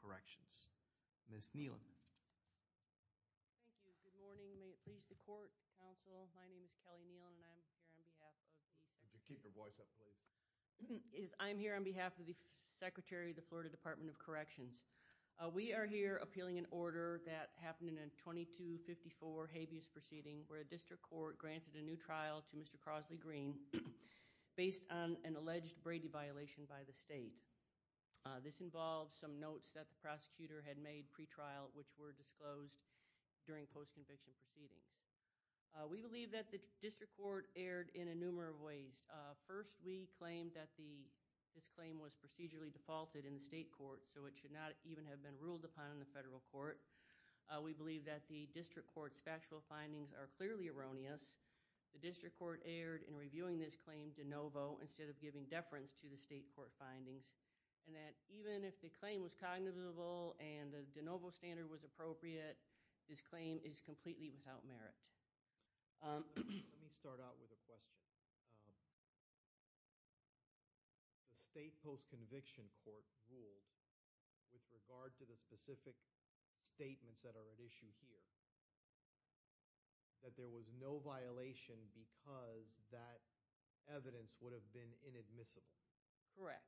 Corrections. Ms. Knellan? Thank you. Good morning. May it please the Court, Council. My name is Kelly Knealan and I am here on behalf of the Secretary of the Florida Department of Corrections. We are here appealing an order that happened in a 2254 habeas proceeding where a district court granted a new trial to Mr. Crosley Green based on an alleged Brady violation by the state. This involved some notes that the prosecutor had made pre-trial which were disclosed during post-conviction proceedings. We believe that the district court erred in a number of ways. First, we claim that this claim was procedurally defaulted in the state court so it should not even have been ruled upon in the federal court. We believe that the district court's factual findings are clearly erroneous. The district court erred in reviewing this claim de novo instead of giving deference to the state court findings and that even if the claim was cognizable and the de novo standard was appropriate, this claim is completely without merit. Let me start out with a question. The state post-conviction court ruled with regard to the specific statements that are at issue here that there was no violation because that evidence would have been inadmissible. Correct.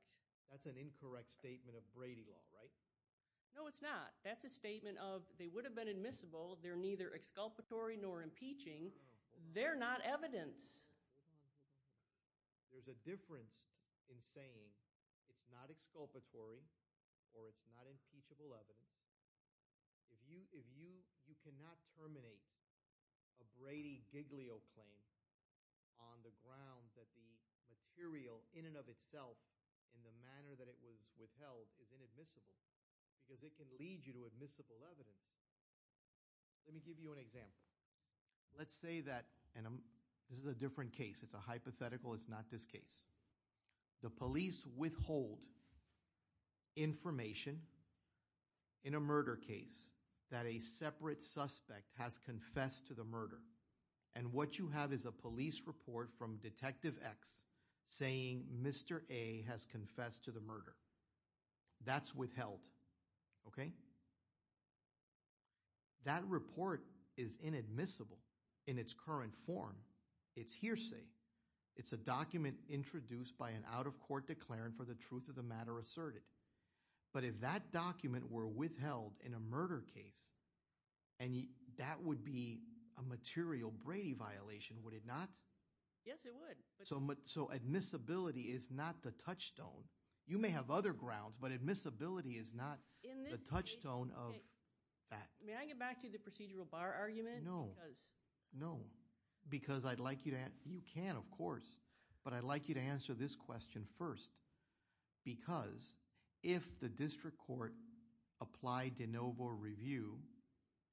That's an incorrect statement of Brady law, right? No, it's not. That's a statement of they would have been admissible. They're neither exculpatory nor impeaching. They're not evidence. There's a difference in saying it's not exculpatory or it's not impeachable evidence. If you cannot terminate a Brady Giglio claim on the ground that the material in and of itself in the manner that it was withheld is inadmissible because it can lead you to admissible evidence. Let me give you an example. Let's say that this is a different case. It's a hypothetical. It's not this case. The police withhold information in a murder case that a separate suspect has confessed to the murder and what you have is a police report from Detective X saying Mr. A has confessed to the murder. That's withheld. Okay? That report is inadmissible in its current form. It's hearsay. It's a document introduced by an out-of-court declarant for the truth of the matter asserted. But if that document were withheld in a murder case and that would be a material Brady violation, would it not? Yes, it would. So admissibility is not the touchstone. You may have other grounds, but admissibility is not the touchstone of that. May I get back to the procedural bar argument? No. No. Because I'd like you to, you can of course, but I'd like you to answer this question first because if the district court applied de novo review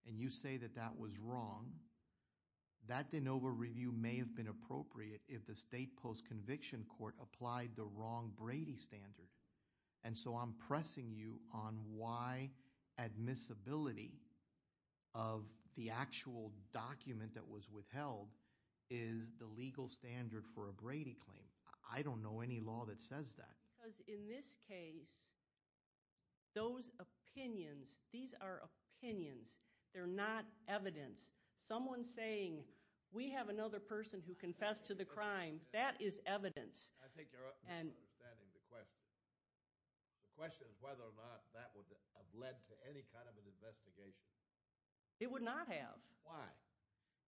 and you say that that was wrong, that de novo review may have been appropriate if the state post-conviction court applied the wrong Brady standard. And so I'm pressing you on why admissibility of the actual document that was withheld is the legal standard for a Brady claim. I don't know any law that says that. Because in this case, those opinions, these are opinions. They're not evidence. Someone saying we have another person who has another opinion, whether or not that would have led to any kind of an investigation. It would not have. Why?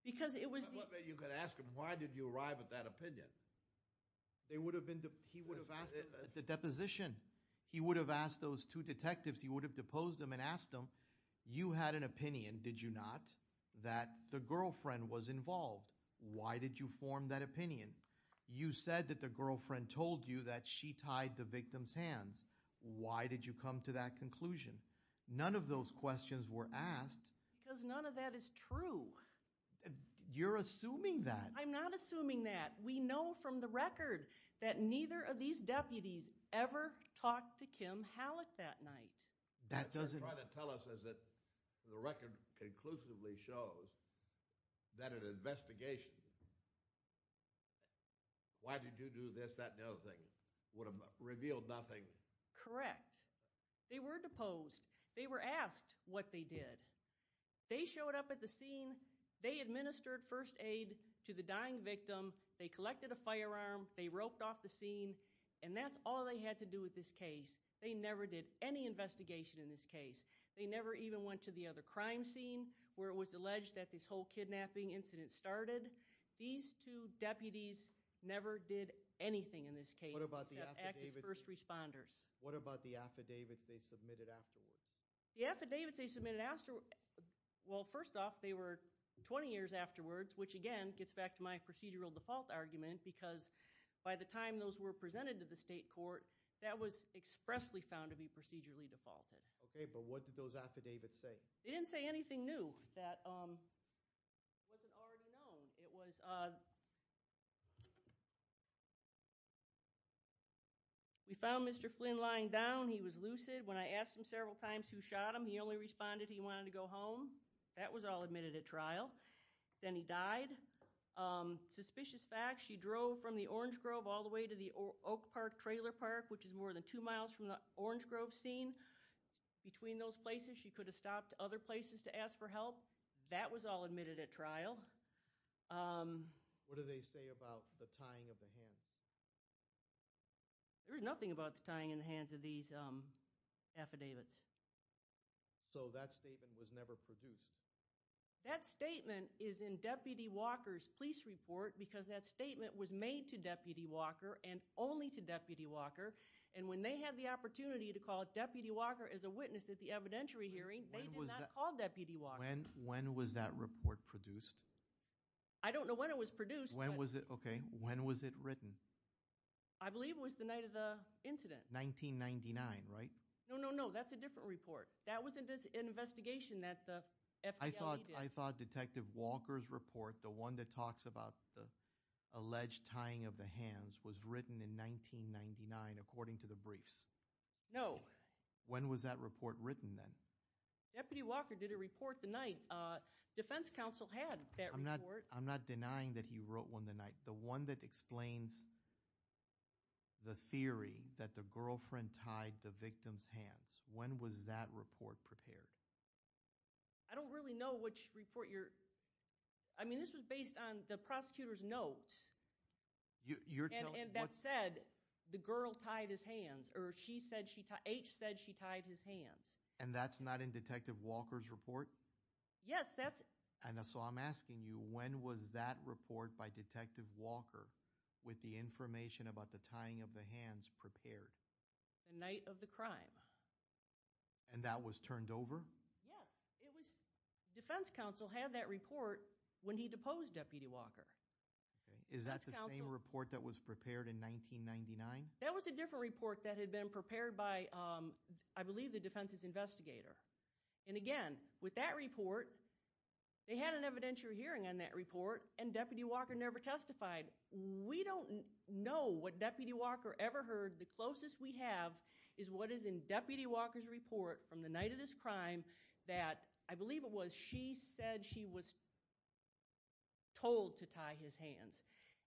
Because it was. You could ask him, why did you arrive at that opinion? They would have been, he would have asked the deposition. He would have asked those two detectives, he would have deposed them and asked them, you had an opinion, did you not? That the girlfriend was involved. Why did you form that opinion? You said that the girlfriend told you that she tied the victim's hands. Why did you come to that conclusion? None of those questions were asked. Because none of that is true. You're assuming that. I'm not assuming that. We know from the record that neither of these deputies ever talked to Kim Hallett that night. That doesn't. They're trying to tell us that the record conclusively shows that an investigation, why did you do this, that and the other thing, would have revealed nothing. Correct. They were deposed. They were asked what they did. They showed up at the scene, they administered first aid to the dying victim, they collected a firearm, they roped off the scene, and that's all they had to do with this case. They never did any of that. It was alleged that this whole kidnapping incident started. These two deputies never did anything in this case except act as first responders. What about the affidavits they submitted afterwards? The affidavits they submitted afterwards, well first off they were 20 years afterwards, which again gets back to my procedural default argument, because by the time those were presented to the state court, that was expressly found to be procedurally that wasn't already known. We found Mr. Flynn lying down. He was lucid. When I asked him several times who shot him, he only responded he wanted to go home. That was all admitted at trial. Then he died. Suspicious facts, she drove from the Orange Grove all the way to the Oak Park trailer park, which is more than two miles from the Orange Grove scene. Between those places she could have stopped other places to ask for help. That was all admitted at trial. What do they say about the tying of the hands? There was nothing about the tying of the hands of these affidavits. So that statement was never produced? That statement is in Deputy Walker's police report because that statement was made to Deputy Walker as a witness at the evidentiary hearing. They did not call Deputy Walker. When was that report produced? I don't know when it was produced. When was it written? I believe it was the night of the incident. 1999, right? No, no, no. That's a different report. That was an investigation that the FBI did. I thought Detective Walker's report, the one that talks about the alleged tying of the hands, was written in 1999 according to the briefs. No. When was that report written then? Deputy Walker did a report the night. Defense Counsel had that report. I'm not denying that he wrote one the night. The one that explains the theory that the girlfriend tied the victim's hands. When was that report prepared? I don't really know which report you're... I mean this was based on the prosecutor's notes. And that said the girl tied his hands or she said she tied... H said she tied his hands. And that's not in Detective Walker's report? Yes, that's... So I'm asking you, when was that report by Detective Walker with the information about the tying of the hands prepared? The night of the crime. And that was turned over? Yes. Defense Counsel had that report when he deposed Deputy Walker. Is that the same report that was prepared in 1999? That was a different report that had been prepared by, I believe, the defense's investigator. And again, with that report, they had an evidentiary hearing on that report and Deputy Walker never testified. We don't know what Deputy Walker ever heard. The closest we have is what is in Deputy Walker's report from the night of this crime that, I believe it was, she said she was told to tie his hands.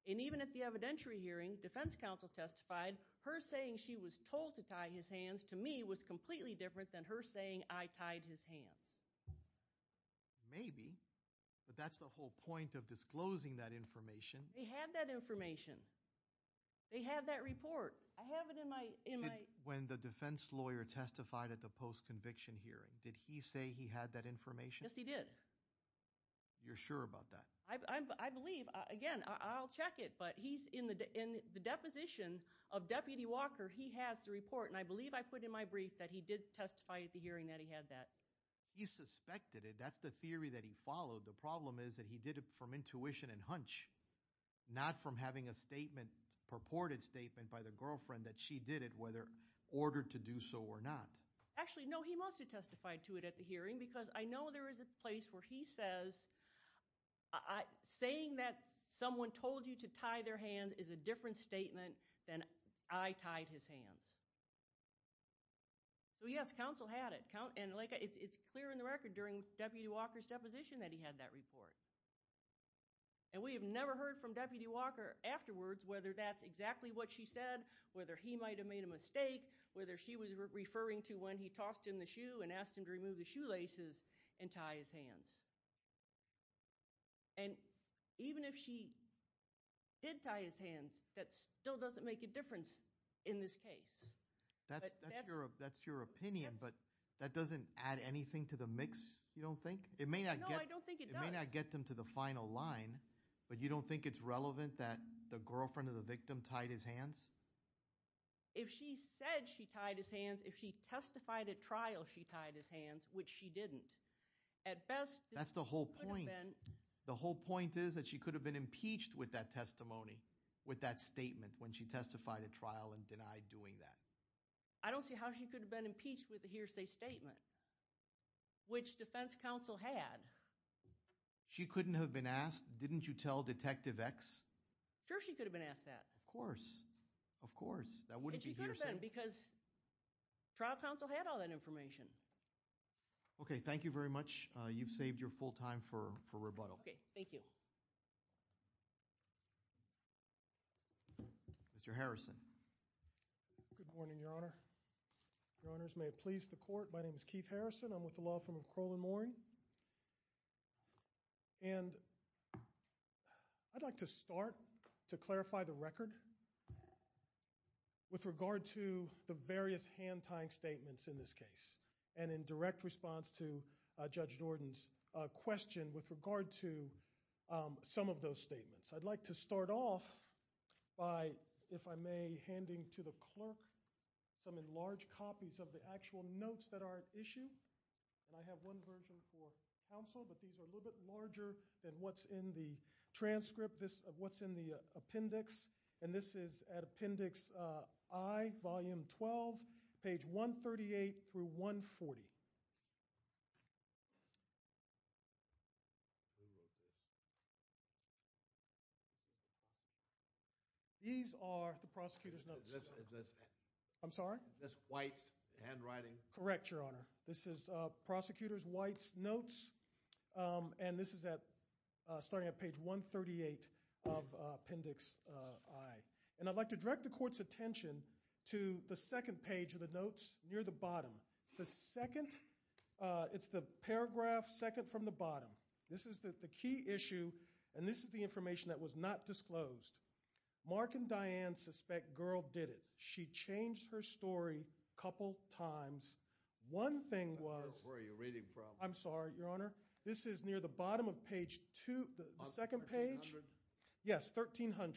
And when the defense counsel testified, her saying she was told to tie his hands, to me, was completely different than her saying I tied his hands. Maybe. But that's the whole point of disclosing that information. They had that information. They had that report. I have it in my... When the defense lawyer testified at the post-conviction hearing, did he say he had that information? Yes, he did. You're sure about that? I believe. Again, I'll check it. But he's in the deposition of Deputy Walker. He has the report. And I believe I put in my brief that he did testify at the hearing that he had that. He suspected it. That's the theory that he followed. The problem is that he did it from intuition and hunch, not from having a statement, purported statement by the girlfriend that she did it, whether ordered to do so or not. Actually, no, he must have testified to it at the hearing because I know there is a place where he says saying that someone told you to tie their hands is a different statement than I tied his hands. So, yes, counsel had it. It's clear in the record during Deputy Walker's deposition that he had that report. And we have never heard from Deputy Walker afterwards whether that's exactly what she said, whether he might have made a mistake, whether she was referring to when he tossed him the shoe and asked him to remove the shoelaces and tie his hands. And even if she did tie his hands, that still doesn't make a difference in this case. That's your opinion, but that doesn't add anything to the mix, you don't think? No, I don't think it does. It may not get them to the final line, but you don't think it's relevant that the she tied his hands, if she testified at trial she tied his hands, which she didn't. That's the whole point. The whole point is that she could have been impeached with that testimony, with that statement when she testified at trial and denied doing that. I don't see how she could have been impeached with a hearsay statement, which defense counsel had. She couldn't have been asked, didn't you tell Detective X? Sure, she could have been asked that. Of course. Of course, that wouldn't be hearsay. She could have been, because trial counsel had all that information. Okay, thank you very much. You've saved your full time for rebuttal. Okay, thank you. Mr. Harrison. Good morning, Your Honor. Your Honors, may it please the court, my name is Keith Harrison. I'm with the law firm of Kroll & Moore. I'd like to start to clarify the record with regard to the various hand-tying statements in this case, and in direct response to Judge Jordan's question with regard to some of those statements. I'd like to start off by, if I may, handing to the clerk some enlarged copies of the actual notes that are at issue, and I have one version for counsel, but these are a little bit larger than what's in the transcript, what's in the appendix, and this is at Appendix I, Volume 12, page 138 through 140. These are the prosecutor's notes. I'm sorry? That's White's handwriting. Correct, Your Honor. This is prosecutor's White's notes, and this is starting at page 138 of Appendix I, and I'd like to direct the court's attention to the second page of the notes near the bottom. It's the second, it's the paragraph second from the bottom. This is the key issue, and this is the information that was not disclosed. Mark and Diane suspect girl did it. She changed her story a couple times. One thing was... I don't know where you're reading from. I'm sorry, Your Honor. This is near the bottom of page two, the second page, yes, 1300,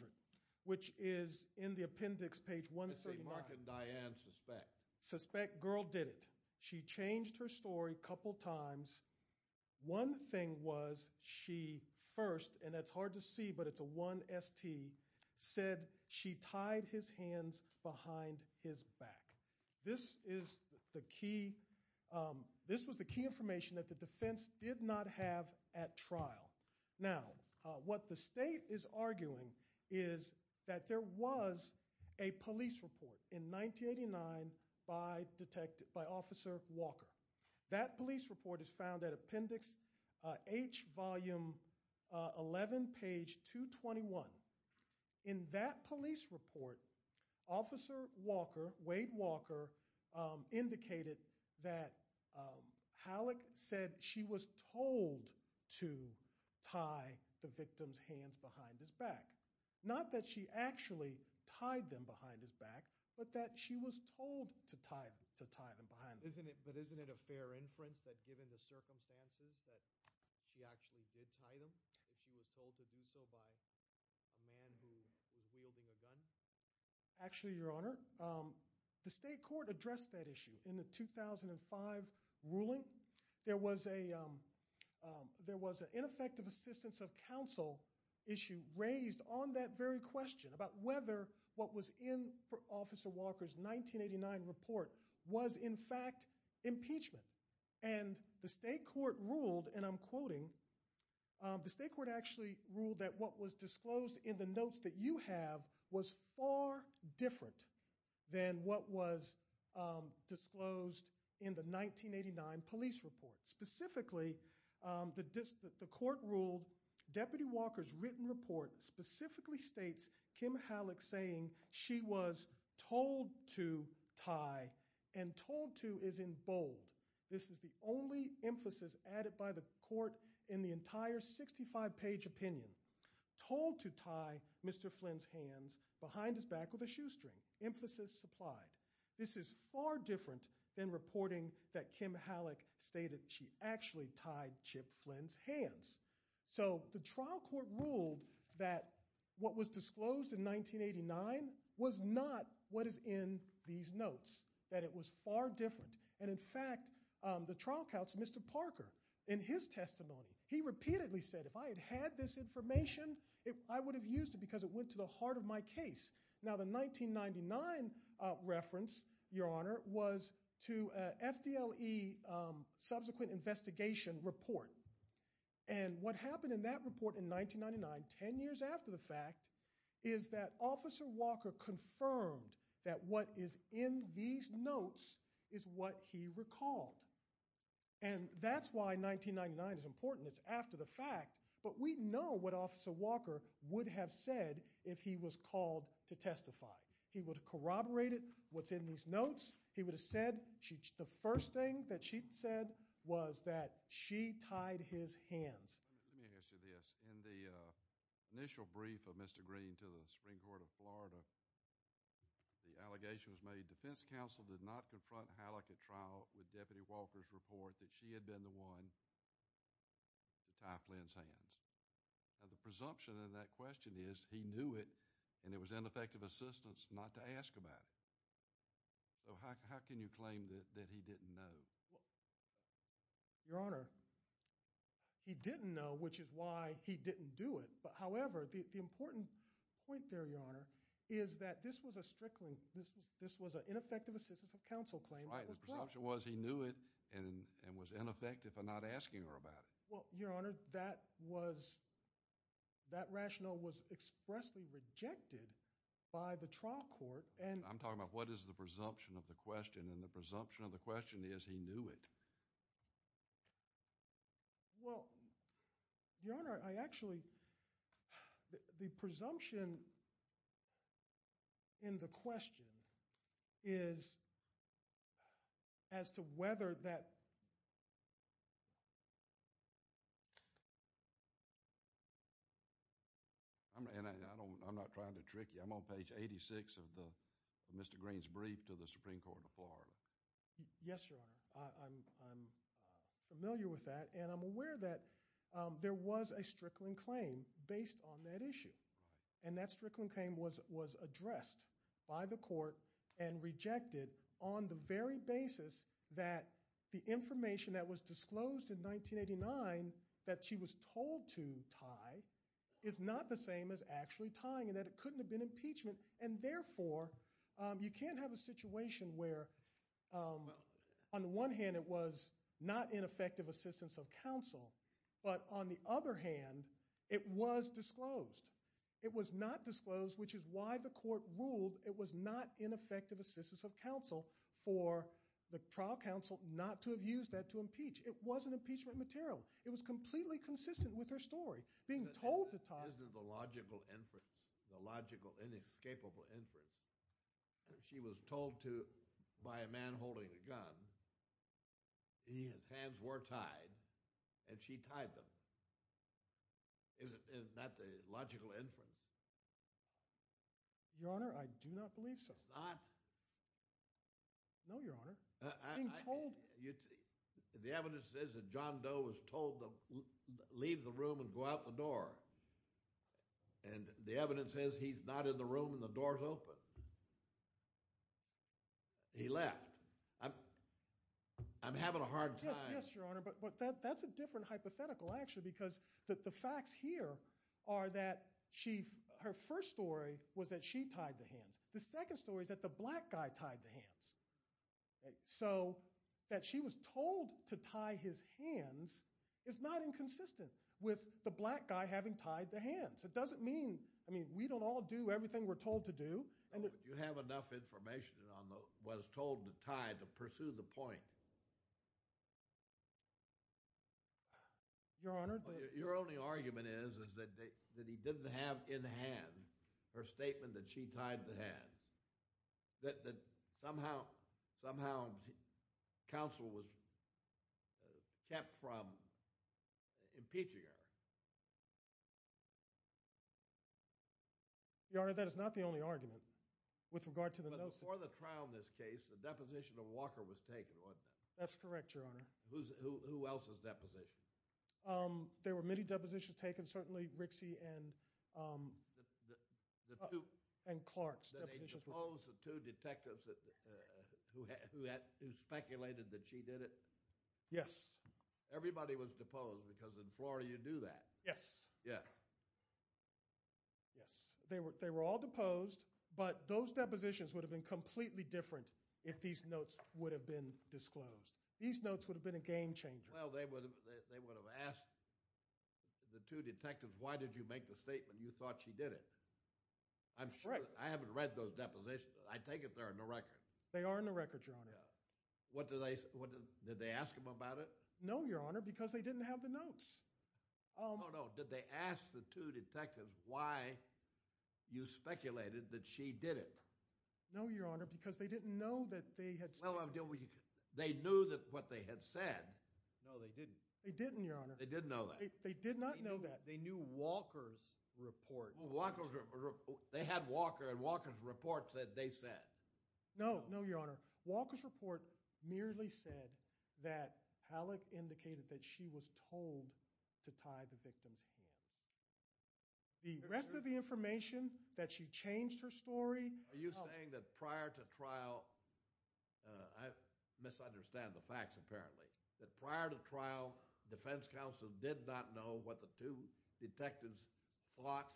which is in the appendix, page 139. I see Mark and Diane suspect. Suspect girl did it. She changed her story a couple times. One thing was she first, and that's hard to see, but it's a 1ST, said she tied his hands behind his back. This is the key, this was the key information that the defense did not have at trial. Now, what the state is arguing is that there was a police report in 1989 by detective, officer Walker. That police report is found at appendix H, volume 11, page 221. In that police report, officer Walker, Wade Walker, indicated that Halleck said she was told to tie the victim's hands behind his back. Not that she actually tied them behind his back, but that she was told to tie them behind his back. But isn't it a fair inference that given the circumstances that she actually did tie them, that she was told to do so by a man who was wielding a gun? Actually, Your Honor, the state court addressed that issue in the 2005 ruling. There was an ineffective assistance of counsel issue raised on that very question about whether what was in officer Walker's 1989 report was in fact impeachment. The state court ruled, and I'm quoting, the state court actually ruled that what was disclosed in the notes that you have was far different than what was disclosed in the 1989 police report. Specifically, the court ruled deputy Walker's written report specifically states Kim Halleck saying she was told to tie, and told to is in bold. This is the only emphasis added by the court in the entire 65-page opinion. Told to tie Mr. Flynn's hands behind his back with a shoestring. Emphasis supplied. This is far different than reporting that Kim Halleck was. So the trial court ruled that what was disclosed in 1989 was not what is in these notes. That it was far different. And in fact, the trial counsel, Mr. Parker, in his testimony, he repeatedly said if I had had this information, I would have used it because it went to the heart of my case. Now the 1999 reference, Your Honor, was to FDLE subsequent investigation report. And what happened in that report in 1999, 10 years after the fact, is that Officer Walker confirmed that what is in these notes is what he recalled. And that's why 1999 is important. It's after the fact. But we know what Officer Walker would have said if he was called to testify. He would corroborate it, what's in these notes. He would have said the first thing that she said was that she tied his hands. Let me ask you this. In the initial brief of Mr. Green to the Supreme Court of Florida, the allegation was made defense counsel did not confront Halleck at trial with Deputy Walker's report that she had been the one to tie Flynn's hands. Now the presumption in that question is he knew it and it was ineffective assistance not to ask about it. So how can you claim that he didn't know? Your Honor, he didn't know, which is why he didn't do it. However, the important point there, Your Honor, is that this was a strickling, this was an ineffective assistance of counsel claim. Right, the presumption was he knew it and was ineffective for not asking her about it. Well, Your Honor, that was, that rationale was expressly rejected by the trial court and I'm talking about what is the presumption of the question and the presumption of the question is he knew it. Well, Your Honor, I actually, the presumption in the question is as to whether that... I'm not trying to trick you. I'm on page 86 of Mr. Green's brief to the Supreme Court of Florida. Yes, Your Honor. I'm familiar with that and I'm aware that there was a strickling claim based on that issue and that strickling claim was addressed by the court and rejected on the very basis that the information that was disclosed in 1989 that she was told to tie is not the same as actually tying and that it couldn't have been impeachment and therefore you can't have a situation where on the one hand it was not ineffective assistance of counsel but on the other hand it was disclosed. It was not disclosed which is why the court ruled it was not ineffective assistance of counsel for the trial counsel not to have used that to impeach. It wasn't impeachment material. It was completely consistent with her story. Being told to tie... Isn't the logical inference, the logical inescapable inference, she was told to, by a man holding a gun, his hands were tied and she tied them. Isn't that the logical inference? Your Honor, I do not believe so. It's not? No, Your Honor. The evidence says that John Doe was told to leave the room and go out the door and the evidence says he's not in the room and the door's open. He left. I'm having a hard time. Yes, Your Honor, but that's a different hypothetical actually because the facts here are that she, her first story was that she tied the hands. The second story is that the black guy tied the hands. So that she was told to tie his hands is not inconsistent with the black guy having tied the hands. It doesn't mean, I mean, we don't all do everything we're told to do. You have enough information on what was told to tie to pursue the point? Your Honor, the... Your only argument is that he didn't have in hand her statement that she tied the hands. That somehow counsel was kept from impeaching her. Your Honor, that is not the only argument with regard to the... But before the trial in this case, the deposition of Walker was taken, wasn't it? That's correct, Your Honor. Who else's deposition? There were many depositions taken, certainly Rixey and Clark's depositions. Did they depose the two detectives who speculated that she did it? Yes. Everybody was deposed because in Florida you do that. Yes. Yes. They were all deposed, but those depositions would have been completely different if these notes would have been disclosed. These notes would have been a game changer. Well, they would have asked the two detectives, why did you make the statement you thought she did it? I haven't read those depositions. I take it they're in the record. They are in the record, Your Honor. Did they ask them about it? No, Your Honor, because they didn't have the notes. Oh, no. Did they ask the two detectives why you speculated that she did it? No, Your Honor, because they didn't know that they had... Well, I'm dealing with... They knew that what they had said. No, they didn't. They didn't, Your Honor. They didn't know that. They did not know that. They knew Walker's report. Well, Walker's report... They had Walker, and Walker's report said they said. No, no, Your Honor. Walker's report merely said that Halleck indicated that she was told to tie the victim's hands. The rest of the information that she changed her story... Are you saying that prior to trial, I misunderstand the facts apparently, that prior to trial, defense counsel did not know what the two detectives thought?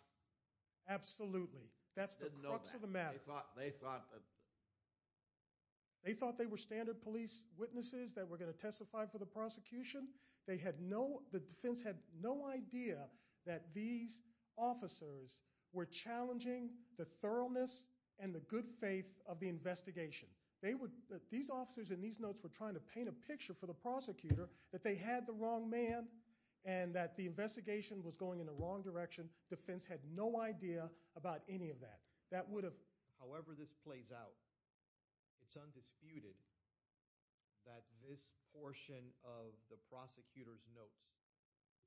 Absolutely. That's the crux of the matter. They thought they were standard police witnesses that were going to testify for the prosecution. The defense had no idea that these officers were challenging the thoroughness and the good faith of the investigation. These officers in these notes were trying to paint a picture for the prosecutor that they had the wrong man and that the investigation was going in the wrong direction. Defense had no idea about any of that. That would have... However this plays out, it's undisputed that this portion of the prosecutor's notes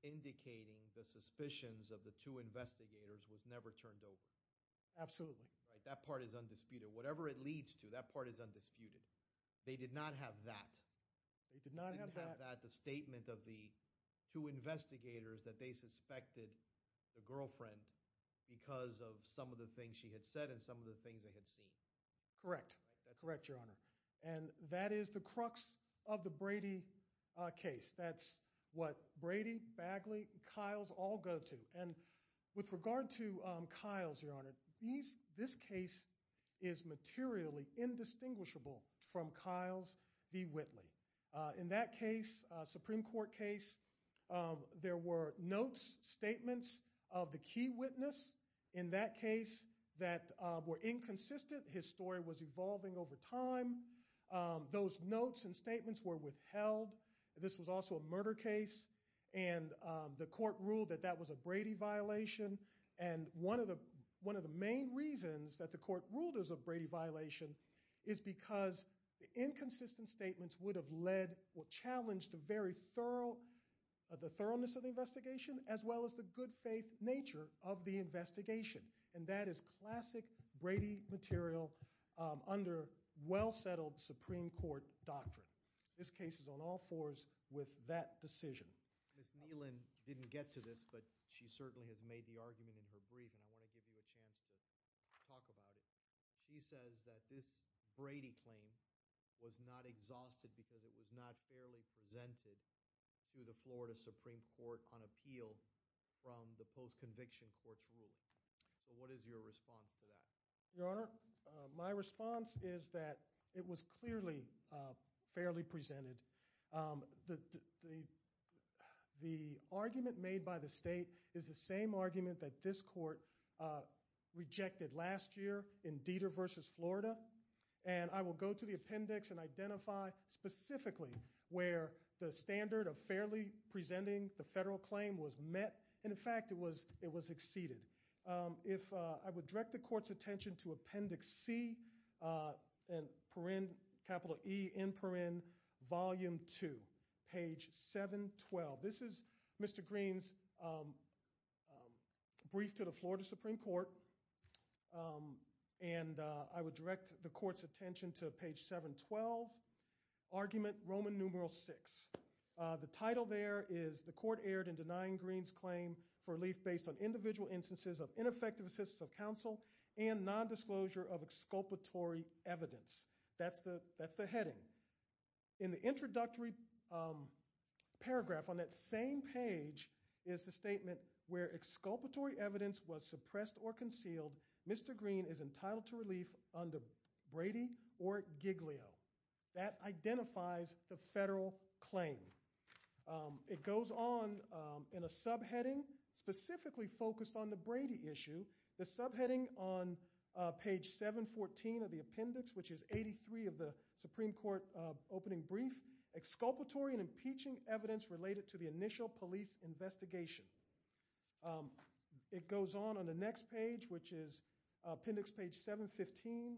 indicating the suspicions of the two investigators was never turned over. Absolutely. That part is undisputed. Whatever it leads to, that part is undisputed. They did not have that. They did not have that. They did not have that, the statement of the two investigators that they suspected the girlfriend because of some of the things she had said and some of the things they had seen. Correct. Correct your honor. And that is the crux of the Brady case. That's what Brady, Bagley, and Kiles all go to. And with regard to Kiles your honor, this case is materially indistinguishable from Kiles v. Whitley. In that case, Supreme Court case, there were notes, statements of the key witness in that case that were inconsistent. His story was evolving over time. Those notes and statements were withheld. This was also a murder case and the court ruled that that was a Brady violation. And one of the main reasons that the court ruled it was a Brady violation is because the inconsistent statements would have led or challenged the very thoroughness of the investigation as well as the good faith nature of the investigation. And that is classic Brady material under well settled Supreme Court doctrine. This case is on all fours with that decision. Ms. Neelan didn't get to this but she certainly has made the argument in her brief and I want to give you a chance to talk about it. She says that this Brady claim was not exhausted because it was not fairly presented to the Florida Supreme Court on appeal from the post-conviction court's ruling. So what is your response to that? Your honor, my response is that it was clearly fairly presented. The argument made by the state is the same argument that this court rejected last year in Deter v. Florida. And I will go to the appendix and identify specifically where the standard of fairly presenting the federal claim was met. In fact, it was exceeded. If I would direct the court's attention to appendix C and per in capital E in per in volume two, page 712. This is Mr. Green's brief to the Florida Supreme Court and I would direct the court's attention to page 712. Argument Roman numeral six. The title there is the court erred in denying Green's claim for relief based on individual instances of ineffective assistance of counsel and nondisclosure of exculpatory evidence. That's the heading. In the introductory paragraph on that same page is the statement where exculpatory evidence was suppressed or concealed. Mr. Green is entitled to relief under Brady or Giglio. That identifies the federal claim. It goes on in a subheading specifically focused on the Brady issue. The subheading on page 714 of the appendix, which is 83 of the Supreme Court opening brief, exculpatory and impeaching evidence related to the initial police investigation. It goes on on the next page, which is appendix page 715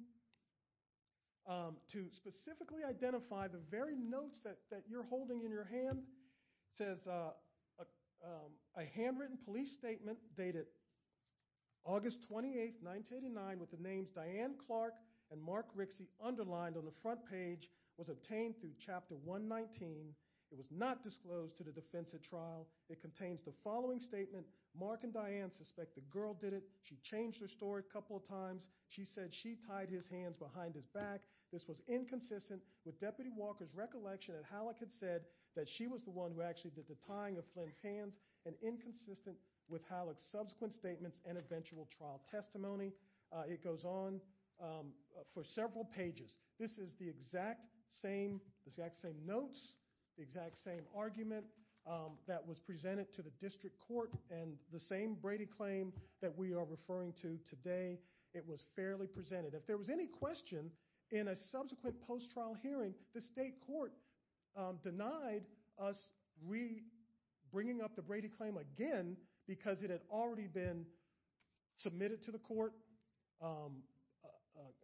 to specifically identify the very notes that you're holding in your hand. It says a handwritten police statement dated August 28, 1989 with the names Diane Clark and Mark Rixey underlined on the front page was obtained through chapter 119. It was not disclosed to the defense at trial. It contains the following statement. Mark and Diane suspect the girl did it. She changed her story a couple of times. She said she tied his hands behind his back. This was inconsistent with Deputy Walker's recollection that Halleck had said that she was the one who actually did the tying of Flynn's hands and inconsistent with Halleck's subsequent statements and eventual trial testimony. It goes on for several pages. This is the exact same notes, the exact same argument that was presented to the district court and the same Brady claim that we are referring to today. It was fairly presented. If there was any question in a subsequent post-trial hearing, the state court denied us bringing up the Brady claim again because it had already been submitted to the court,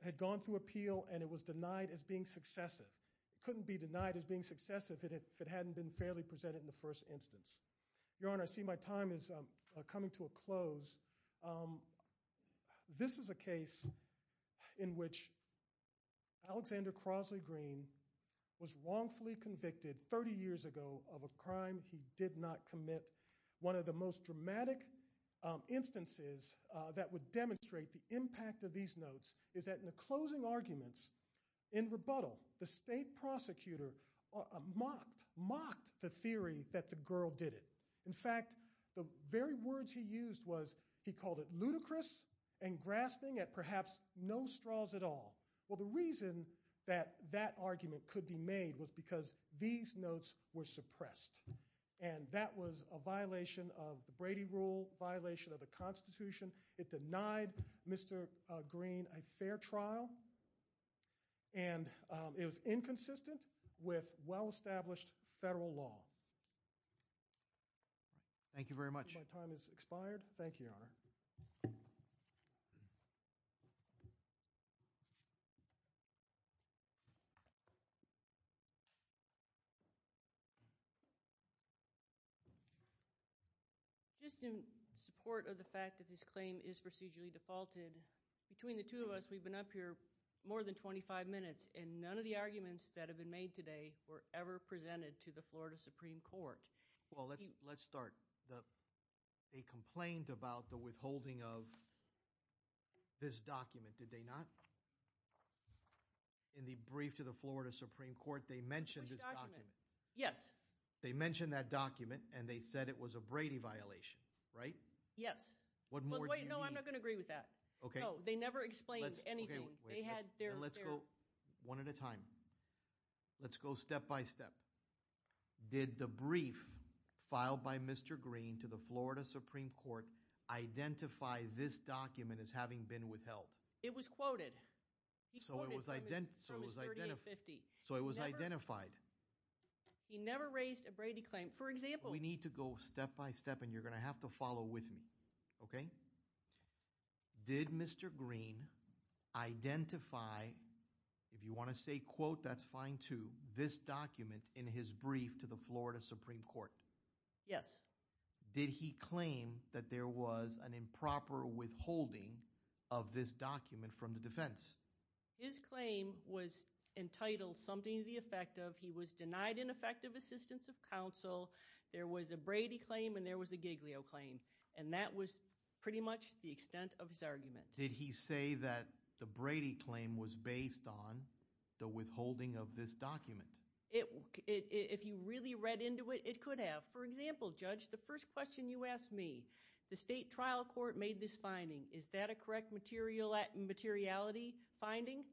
had gone through appeal, and it was denied as being successive. It couldn't be denied as being successive if it hadn't been fairly presented in the first instance. Your Honor, I see my time is coming to a close. This is a case in which Alexander Crosley Green was wrongfully convicted 30 years ago of a crime he did not commit. One of the most dramatic instances that would demonstrate the impact of these notes is that in the closing arguments in rebuttal, the state prosecutor mocked the theory that the girl did it. In fact, the very words he used was he called it ludicrous and grasping at perhaps no straws at all. Well, the reason that that argument could be made was because these notes were suppressed. And that was a violation of the Brady rule, a violation of the Constitution. It denied Mr. Green a fair trial, and it was inconsistent with well-established federal law. Thank you very much. I see my time has expired. Thank you, Your Honor. Just in support of the fact that this claim is procedurally defaulted, between the two of us, we've been up here more than 25 minutes, and none of the arguments that have been made today were ever presented to the Florida Supreme Court. Well, let's start. They complained about the withholding of this document, did they not? In the brief to the Florida Supreme Court, they mentioned this document. Yes. They mentioned that document, and they said it was a Brady violation, right? Yes. What more do you need? No, I'm not going to agree with that. Okay. No, they never explained anything. They had their— Let's go one at a time. Let's go step by step. Did the brief filed by Mr. Green to the Florida Supreme Court identify this document as having been withheld? It was quoted. He quoted from his 3850. So it was identified. He never raised a Brady claim. For example— We need to go step by step, and you're going to have to follow with me, okay? Did Mr. Green identify—if you want to say quote, that's fine too—this document in his brief to the Florida Supreme Court? Yes. Did he claim that there was an improper withholding of this document from the defense? His claim was entitled something to the effect of he was denied an effective assistance of counsel, there was a Brady claim, and there was a Giglio claim. And that was pretty much the extent of his argument. Did he say that the Brady claim was based on the withholding of this document? If you really read into it, it could have. For example, Judge, the first question you ask is, what is this finding? Is that a correct materiality finding?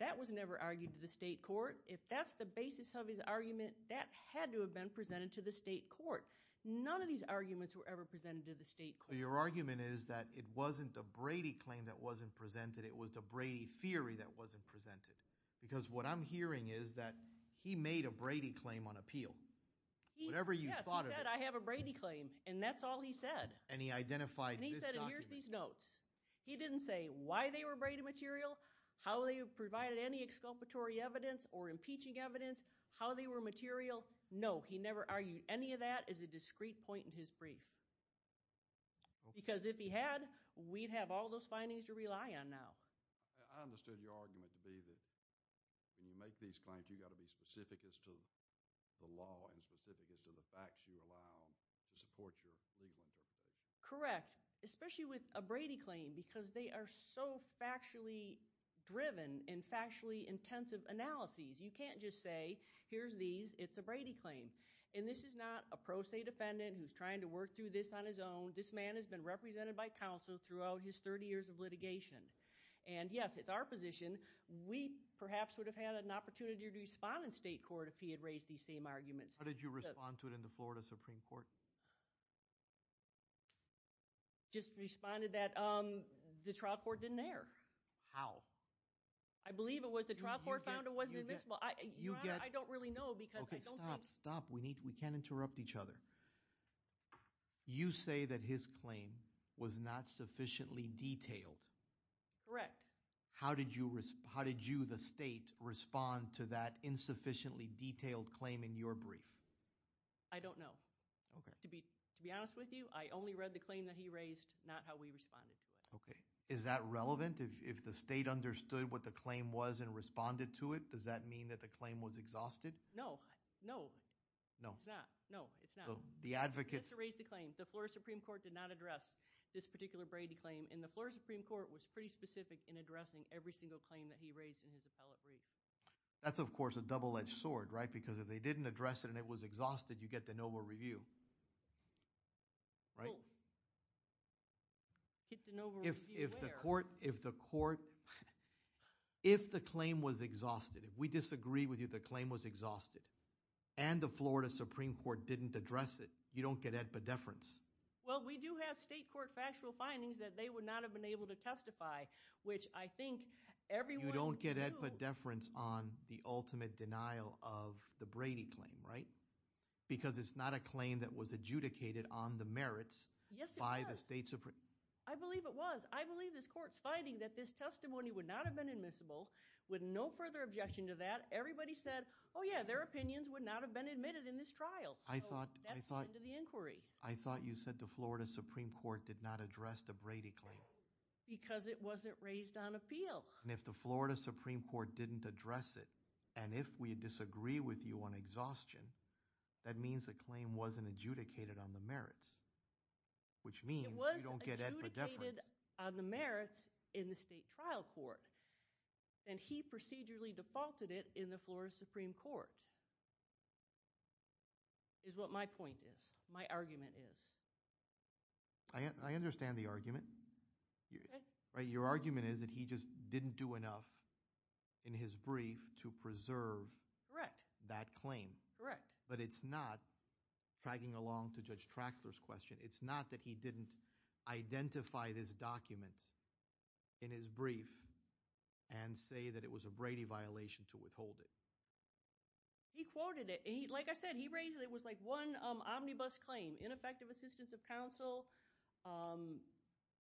That was never argued to the state court. If that's the basis of his argument, that had to have been presented to the state court. None of these arguments were ever presented to the state court. Your argument is that it wasn't the Brady claim that wasn't presented, it was the Brady theory that wasn't presented. Because what I'm hearing is that he made a Brady claim on appeal. Whatever you thought of it— Yes, he said, I have a Brady claim. And that's all he said. And he identified this document— And he said, and here's these notes. He didn't say why they were Brady material, how they provided any exculpatory evidence or impeaching evidence, how they were material. No, he never argued any of that as a discrete point in his brief. Because if he had, we'd have all those findings to rely on now. I understood your argument to be that when you make these claims, you've got to be specific as to the law and specific as to the facts you allow to support your legal interpretation. Correct. Especially with a Brady claim, because they are so factually driven and factually intensive analyses. You can't just say, here's these, it's a Brady claim. And this is not a pro se defendant who's trying to work through this on his own. This man has been represented by counsel throughout his 30 years of litigation. And yes, it's our position. We perhaps would have had an opportunity to respond in state court if he had raised these same arguments. How did you respond to it in the Florida Supreme Court? Just responded that the trial court didn't err. How? I believe it was the trial court found it wasn't admissible. I don't really know because I don't think— Okay, stop, stop. We can't interrupt each other. You say that his claim was not sufficiently detailed. Correct. How did you, the state, respond to that insufficiently detailed claim in your brief? I don't know. To be honest with you, I only read the claim that he raised, not how we responded to it. Okay. Is that relevant? If the state understood what the claim was and responded to it, does that mean that the claim was exhausted? No, no. No. It's not. No, it's not. The advocates— We have to raise the claim. The Florida Supreme Court did not address this particular Brady claim, and the Florida Supreme Court was pretty specific in addressing every single claim that he raised in his appellate brief. That's, of course, a double-edged sword, right? Because if they didn't address it and it was exhausted, you get de novo review, right? Well, get de novo review where? If the court—if the claim was exhausted, if we disagree with you the claim was exhausted and the Florida Supreme Court didn't address it, you don't get ad pedeference. Well, we do have state court factual findings that they would not have been able to testify, which I think everyone— You don't get ad pedeference on the ultimate denial of the Brady claim, right? Because it's not a claim that was adjudicated on the merits by the state Supreme— I believe it was. I believe this court's finding that this testimony would not have been admissible with no further objection to that. Everybody said, oh, yeah, their opinions would not have been admitted in this trial. I thought— So that's the end of the inquiry. I thought you said the Florida Supreme Court did not address the Brady claim. Because it wasn't raised on appeal. And if the Florida Supreme Court didn't address it and if we disagree with you on exhaustion that means the claim wasn't adjudicated on the merits, which means you don't get ad pedeference. It was adjudicated on the merits in the state trial court and he procedurally defaulted it in the Florida Supreme Court, is what my point is, my argument is. I understand the argument. Your argument is that he just didn't do enough in his brief to preserve that claim. But it's not, tagging along to Judge Traxler's question, it's not that he didn't identify this document in his brief and say that it was a Brady violation to withhold it. He quoted it. Like I said, he raised it. It was like one omnibus claim, ineffective assistance of counsel,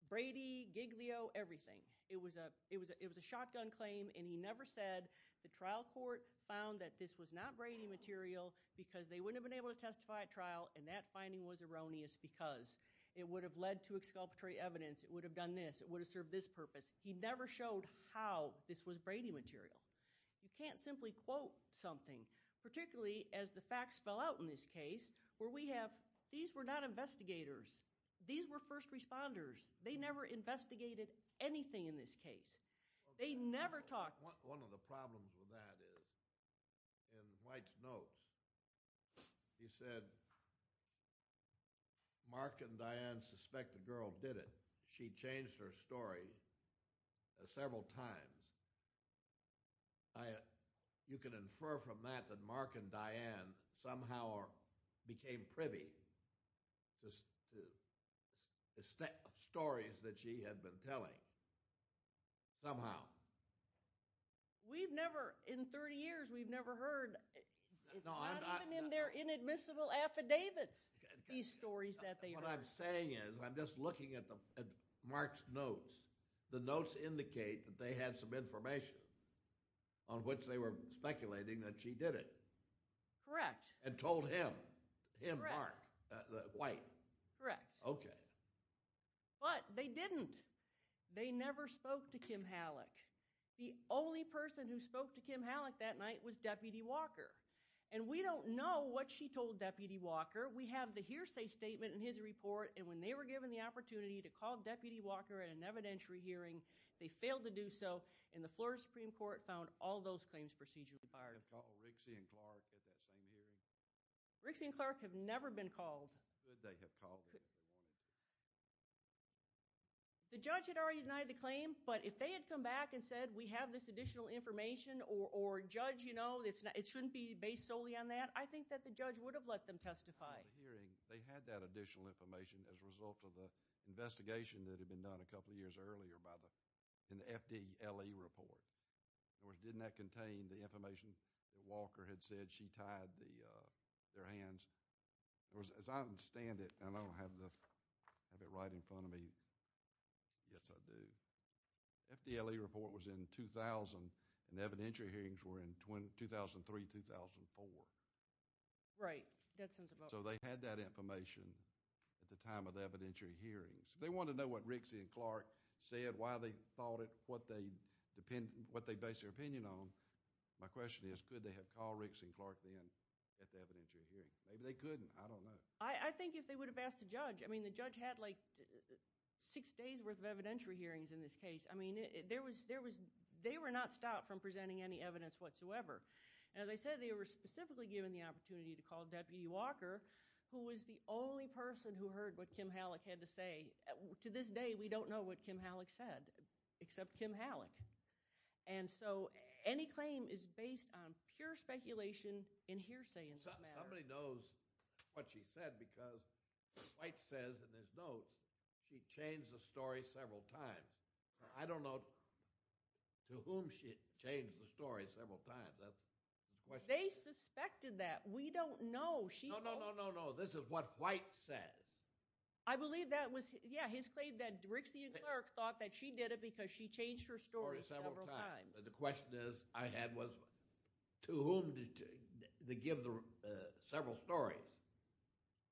Brady, Giglio, everything. It was a shotgun claim and he never said the trial court found that this was not Brady material because they wouldn't have been able to testify at trial and that finding was erroneous because it would have led to exculpatory evidence, it would have done this, it would have served this purpose. He never showed how this was Brady material. You can't simply quote something, particularly as the facts fell out in this case, where we have, these were not investigators, these were first responders. They never investigated anything in this case. They never talked. One of the problems with that is, in White's notes, he said, Mark and Diane suspect the girl did it. She changed her story several times. You can infer from that that Mark and Diane somehow became privy to the stories that she had been telling, somehow. We've never, in 30 years, we've never heard, it's not even in their inadmissible affidavits, these stories that they've heard. What I'm saying is, I'm just looking at Mark's notes. The notes indicate that they had some information on which they were speculating that she did it. Correct. And told him. Correct. Him, Mark. White. Correct. Okay. But they didn't. They never spoke to Kim Halleck. The only person who spoke to Kim Halleck that night was Deputy Walker. And we don't know what she told Deputy Walker. We have the hearsay statement in his report, and when they were given the opportunity to call Deputy Walker at an evidentiary hearing, they failed to do so, and the Florida Supreme Court found all those claims procedurally fired. Did they call Rixey and Clark at that same hearing? Rixey and Clark have never been called. Could they have called? The judge had already denied the claim, but if they had come back and said, we have this additional information, or, Judge, you know, it shouldn't be based solely on that, I think that the judge would have let them testify. At the hearing, they had that additional information as a result of the investigation that had been done a couple of years earlier by the, in the FDLE report. In other words, didn't that contain the information that Walker had said she tied their hands? As I understand it, and I don't have it right in front of me, yes, I do, the FDLE report was in 2000, and evidentiary hearings were in 2003, 2004. Right. That sounds about right. So they had that information at the time of the evidentiary hearings. They wanted to know what Rixey and Clark said, why they thought it, what they based their opinion on. My question is, could they have called Rixey and Clark then at the evidentiary hearing? Maybe they couldn't. I don't know. I think if they would have asked the judge. I mean, the judge had, like, six days' worth of evidentiary hearings in this case. I mean, there was, they were not stopped from presenting any evidence whatsoever. As I said, they were specifically given the opportunity to call Deputy Walker, who was the only person who heard what Kim Halleck had to say. To this day, we don't know what Kim Halleck said, except Kim Halleck. And so, any claim is based on pure speculation and hearsay in this matter. Somebody knows what she said, because White says in his notes, she changed the story several times. I don't know to whom she changed the story several times. They suspected that. We don't know. No, no, no, no, no. This is what White says. I believe that was, yeah, his claim that Rixey and Clark thought that she did it because she changed her story several times. The question is, I had was, to whom did they give the several stories?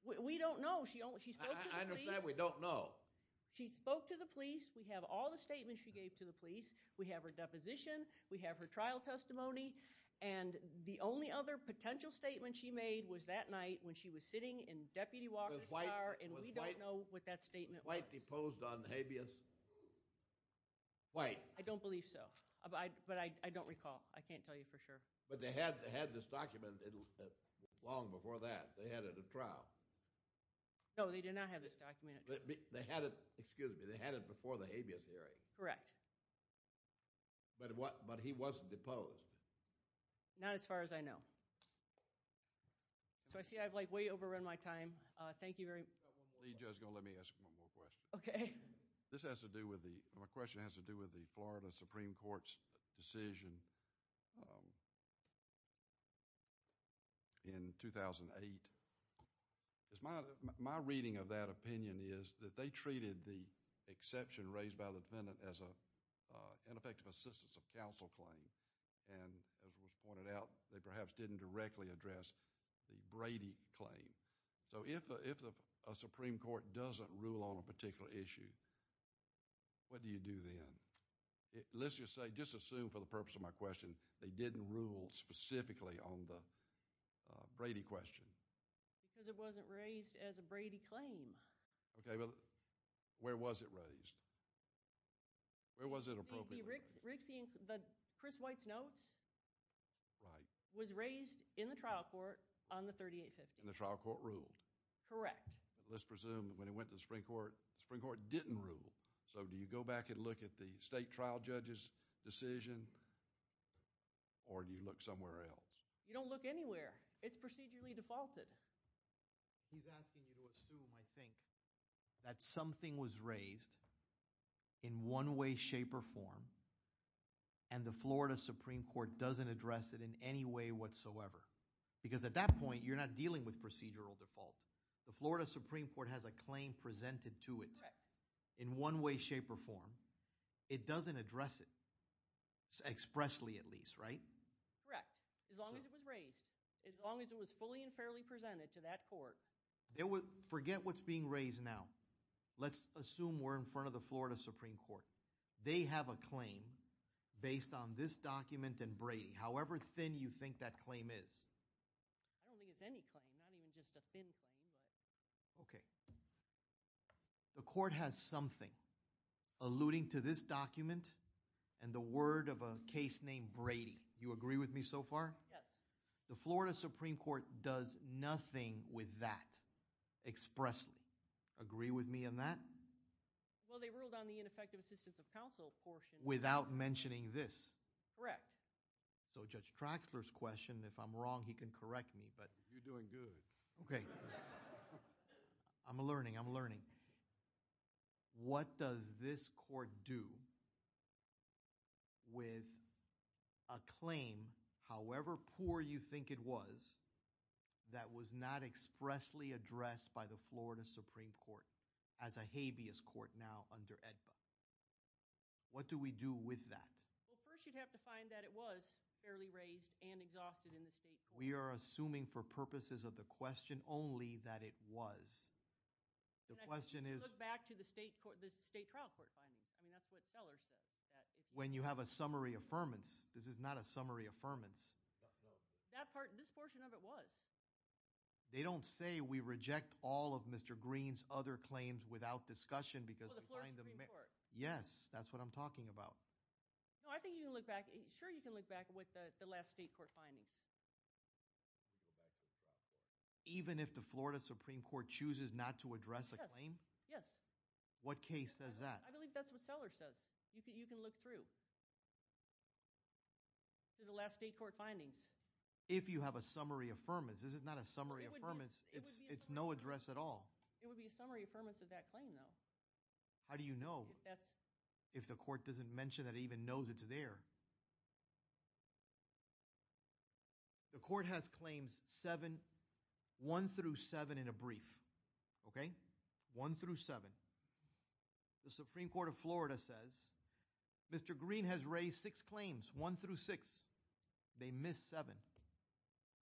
We don't know. She spoke to the police. I understand we don't know. She spoke to the police. We have all the statements she gave to the police. We have her deposition. We have her trial testimony. And the only other potential statement she made was that night when she was sitting in Deputy Walker's car, and we don't know what that statement was. Was White deposed on habeas? White. I don't believe so. But I don't recall. I can't tell you for sure. But they had this document long before that. They had it at trial. No, they did not have this document at trial. They had it, excuse me, they had it before the habeas hearing. Correct. But he wasn't deposed. Not as far as I know. So I see I've like way overrun my time. Thank you very much. Let me ask one more question. Okay. This has to do with the, my question has to do with the Florida Supreme Court's decision in 2008. My reading of that opinion is that they treated the exception raised by the defendant as a ineffective assistance of counsel claim. And as was pointed out, they perhaps didn't directly address the Brady claim. So if a Supreme Court doesn't rule on a particular issue, what do you do then? Let's just say, just assume for the purpose of my question, they didn't rule specifically on the Brady question. Because it wasn't raised as a Brady claim. Okay. Well, where was it raised? Where was it appropriately raised? The Chris White's notes was raised in the trial court on the 3850. And the trial court ruled? Correct. Let's presume when it went to the Supreme Court, the Supreme Court didn't rule. So do you go back and look at the state trial judge's decision? Or do you look somewhere else? You don't look anywhere. It's procedurally defaulted. He's asking you to assume, I think, that something was raised in one way, shape, or form. And the Florida Supreme Court doesn't address it in any way whatsoever. Because at that point, you're not dealing with procedural default. The Florida Supreme Court has a claim presented to it in one way, shape, or form. It doesn't address it, expressly at least, right? Correct. As long as it was raised. As long as it was fully and fairly presented to that court. Forget what's being raised now. Let's assume we're in front of the Florida Supreme Court. They have a claim based on this document and Brady. However thin you think that claim is. I don't think it's any claim. Not even just a thin claim. Okay. The court has something alluding to this document and the word of a case named Brady. You agree with me so far? Yes. The Florida Supreme Court does nothing with that expressly. Agree with me on that? Well, they ruled on the ineffective assistance of counsel portion. Without mentioning this. Correct. So Judge Traxler's question, if I'm wrong he can correct me. You're doing good. Okay. I'm learning, I'm learning. What does this court do with a claim, however poor you think it was, that was not expressly addressed by the Florida Supreme Court as a habeas court now under AEDPA? What do we do with that? Well first you'd have to find that it was fairly raised and exhausted in the state court. We are assuming for purposes of the question only that it was. The question is. Look back to the state trial court findings. I mean that's what Sellers said. When you have a summary affirmance. This is not a summary affirmance. That part, this portion of it was. They don't say we reject all of Mr. Green's other claims without discussion because. The Florida Supreme Court. Yes, that's what I'm talking about. No, I think you can look back. Sure you can look back with the last state court findings. Even if the Florida Supreme Court chooses not to address a claim? Yes. What case says that? I believe that's what Sellers says. You can look through. The last state court findings. If you have a summary affirmance. This is not a summary affirmance. It's no address at all. It would be a summary affirmance of that claim though. How do you know? If the court doesn't mention it. Even knows it's there. The court has claims 7. 1 through 7 in a brief. Okay. 1 through 7. The Supreme Court of Florida says. Mr. Green has raised 6 claims. 1 through 6. They miss 7.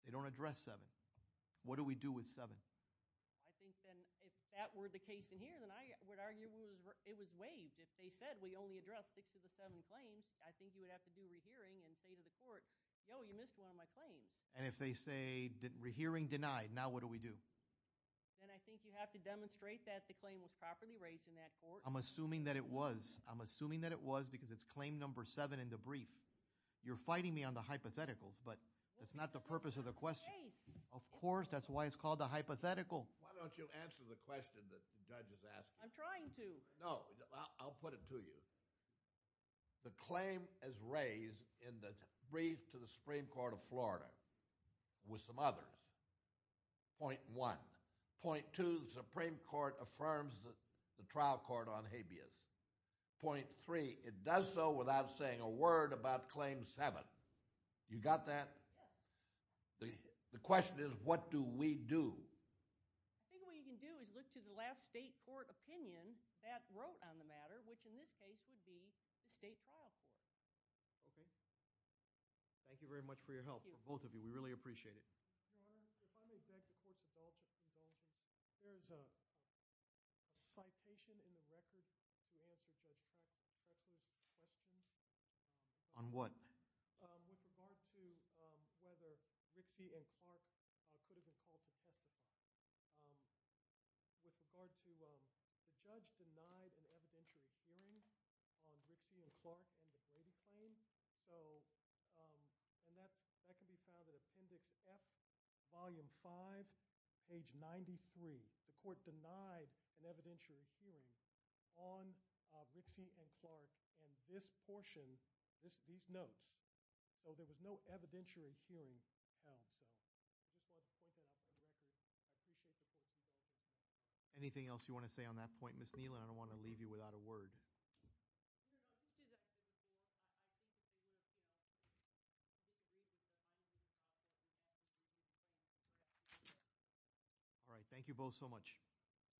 They don't address 7. What do we do with 7? I think then if that were the case in here. I would argue it was waived. If they said we only address 6 of the 7 claims. I think you would have to do rehearing. And say to the court. You missed one of my claims. And if they say. Rehearing denied. Now what do we do? Then I think you have to demonstrate that the claim was properly raised in that court. I'm assuming that it was. I'm assuming that it was. Because it's claim number 7 in the brief. You're fighting me on the hypotheticals. But that's not the purpose of the question. Of course. That's why it's called a hypothetical. Why don't you answer the question that the judge is asking. I'm trying to. No. I'll put it to you. The claim is raised in the brief to the Supreme Court of Florida. With some others. Point 1. Point 2. The Supreme Court affirms the trial court on habeas. Point 3. It does so without saying a word about claim 7. You got that? Yes. The question is what do we do? I think what you can do is look to the last state court opinion. That wrote on the matter. Which in this case would be the state trial court. Okay. Thank you very much for your help. Thank you. For both of you. We really appreciate it. If I may beg the courts indulgence. There's a citation in the record. To answer Judge Pecker's question. On what? With regard to whether Rixey and Clark could have been called to testify. With regard to the judge denied an evidentiary hearing on Rixey and Clark and the Brady claim. That can be found in appendix F volume 5 page 93. The court denied an evidentiary hearing on Rixey and Clark and this portion these notes. There was no evidentiary hearing held. Anything else you want to say on that point? Ms. Nealon, I don't want to leave you without a word. Thank you both so much. Thank you. Thank you. Thank you.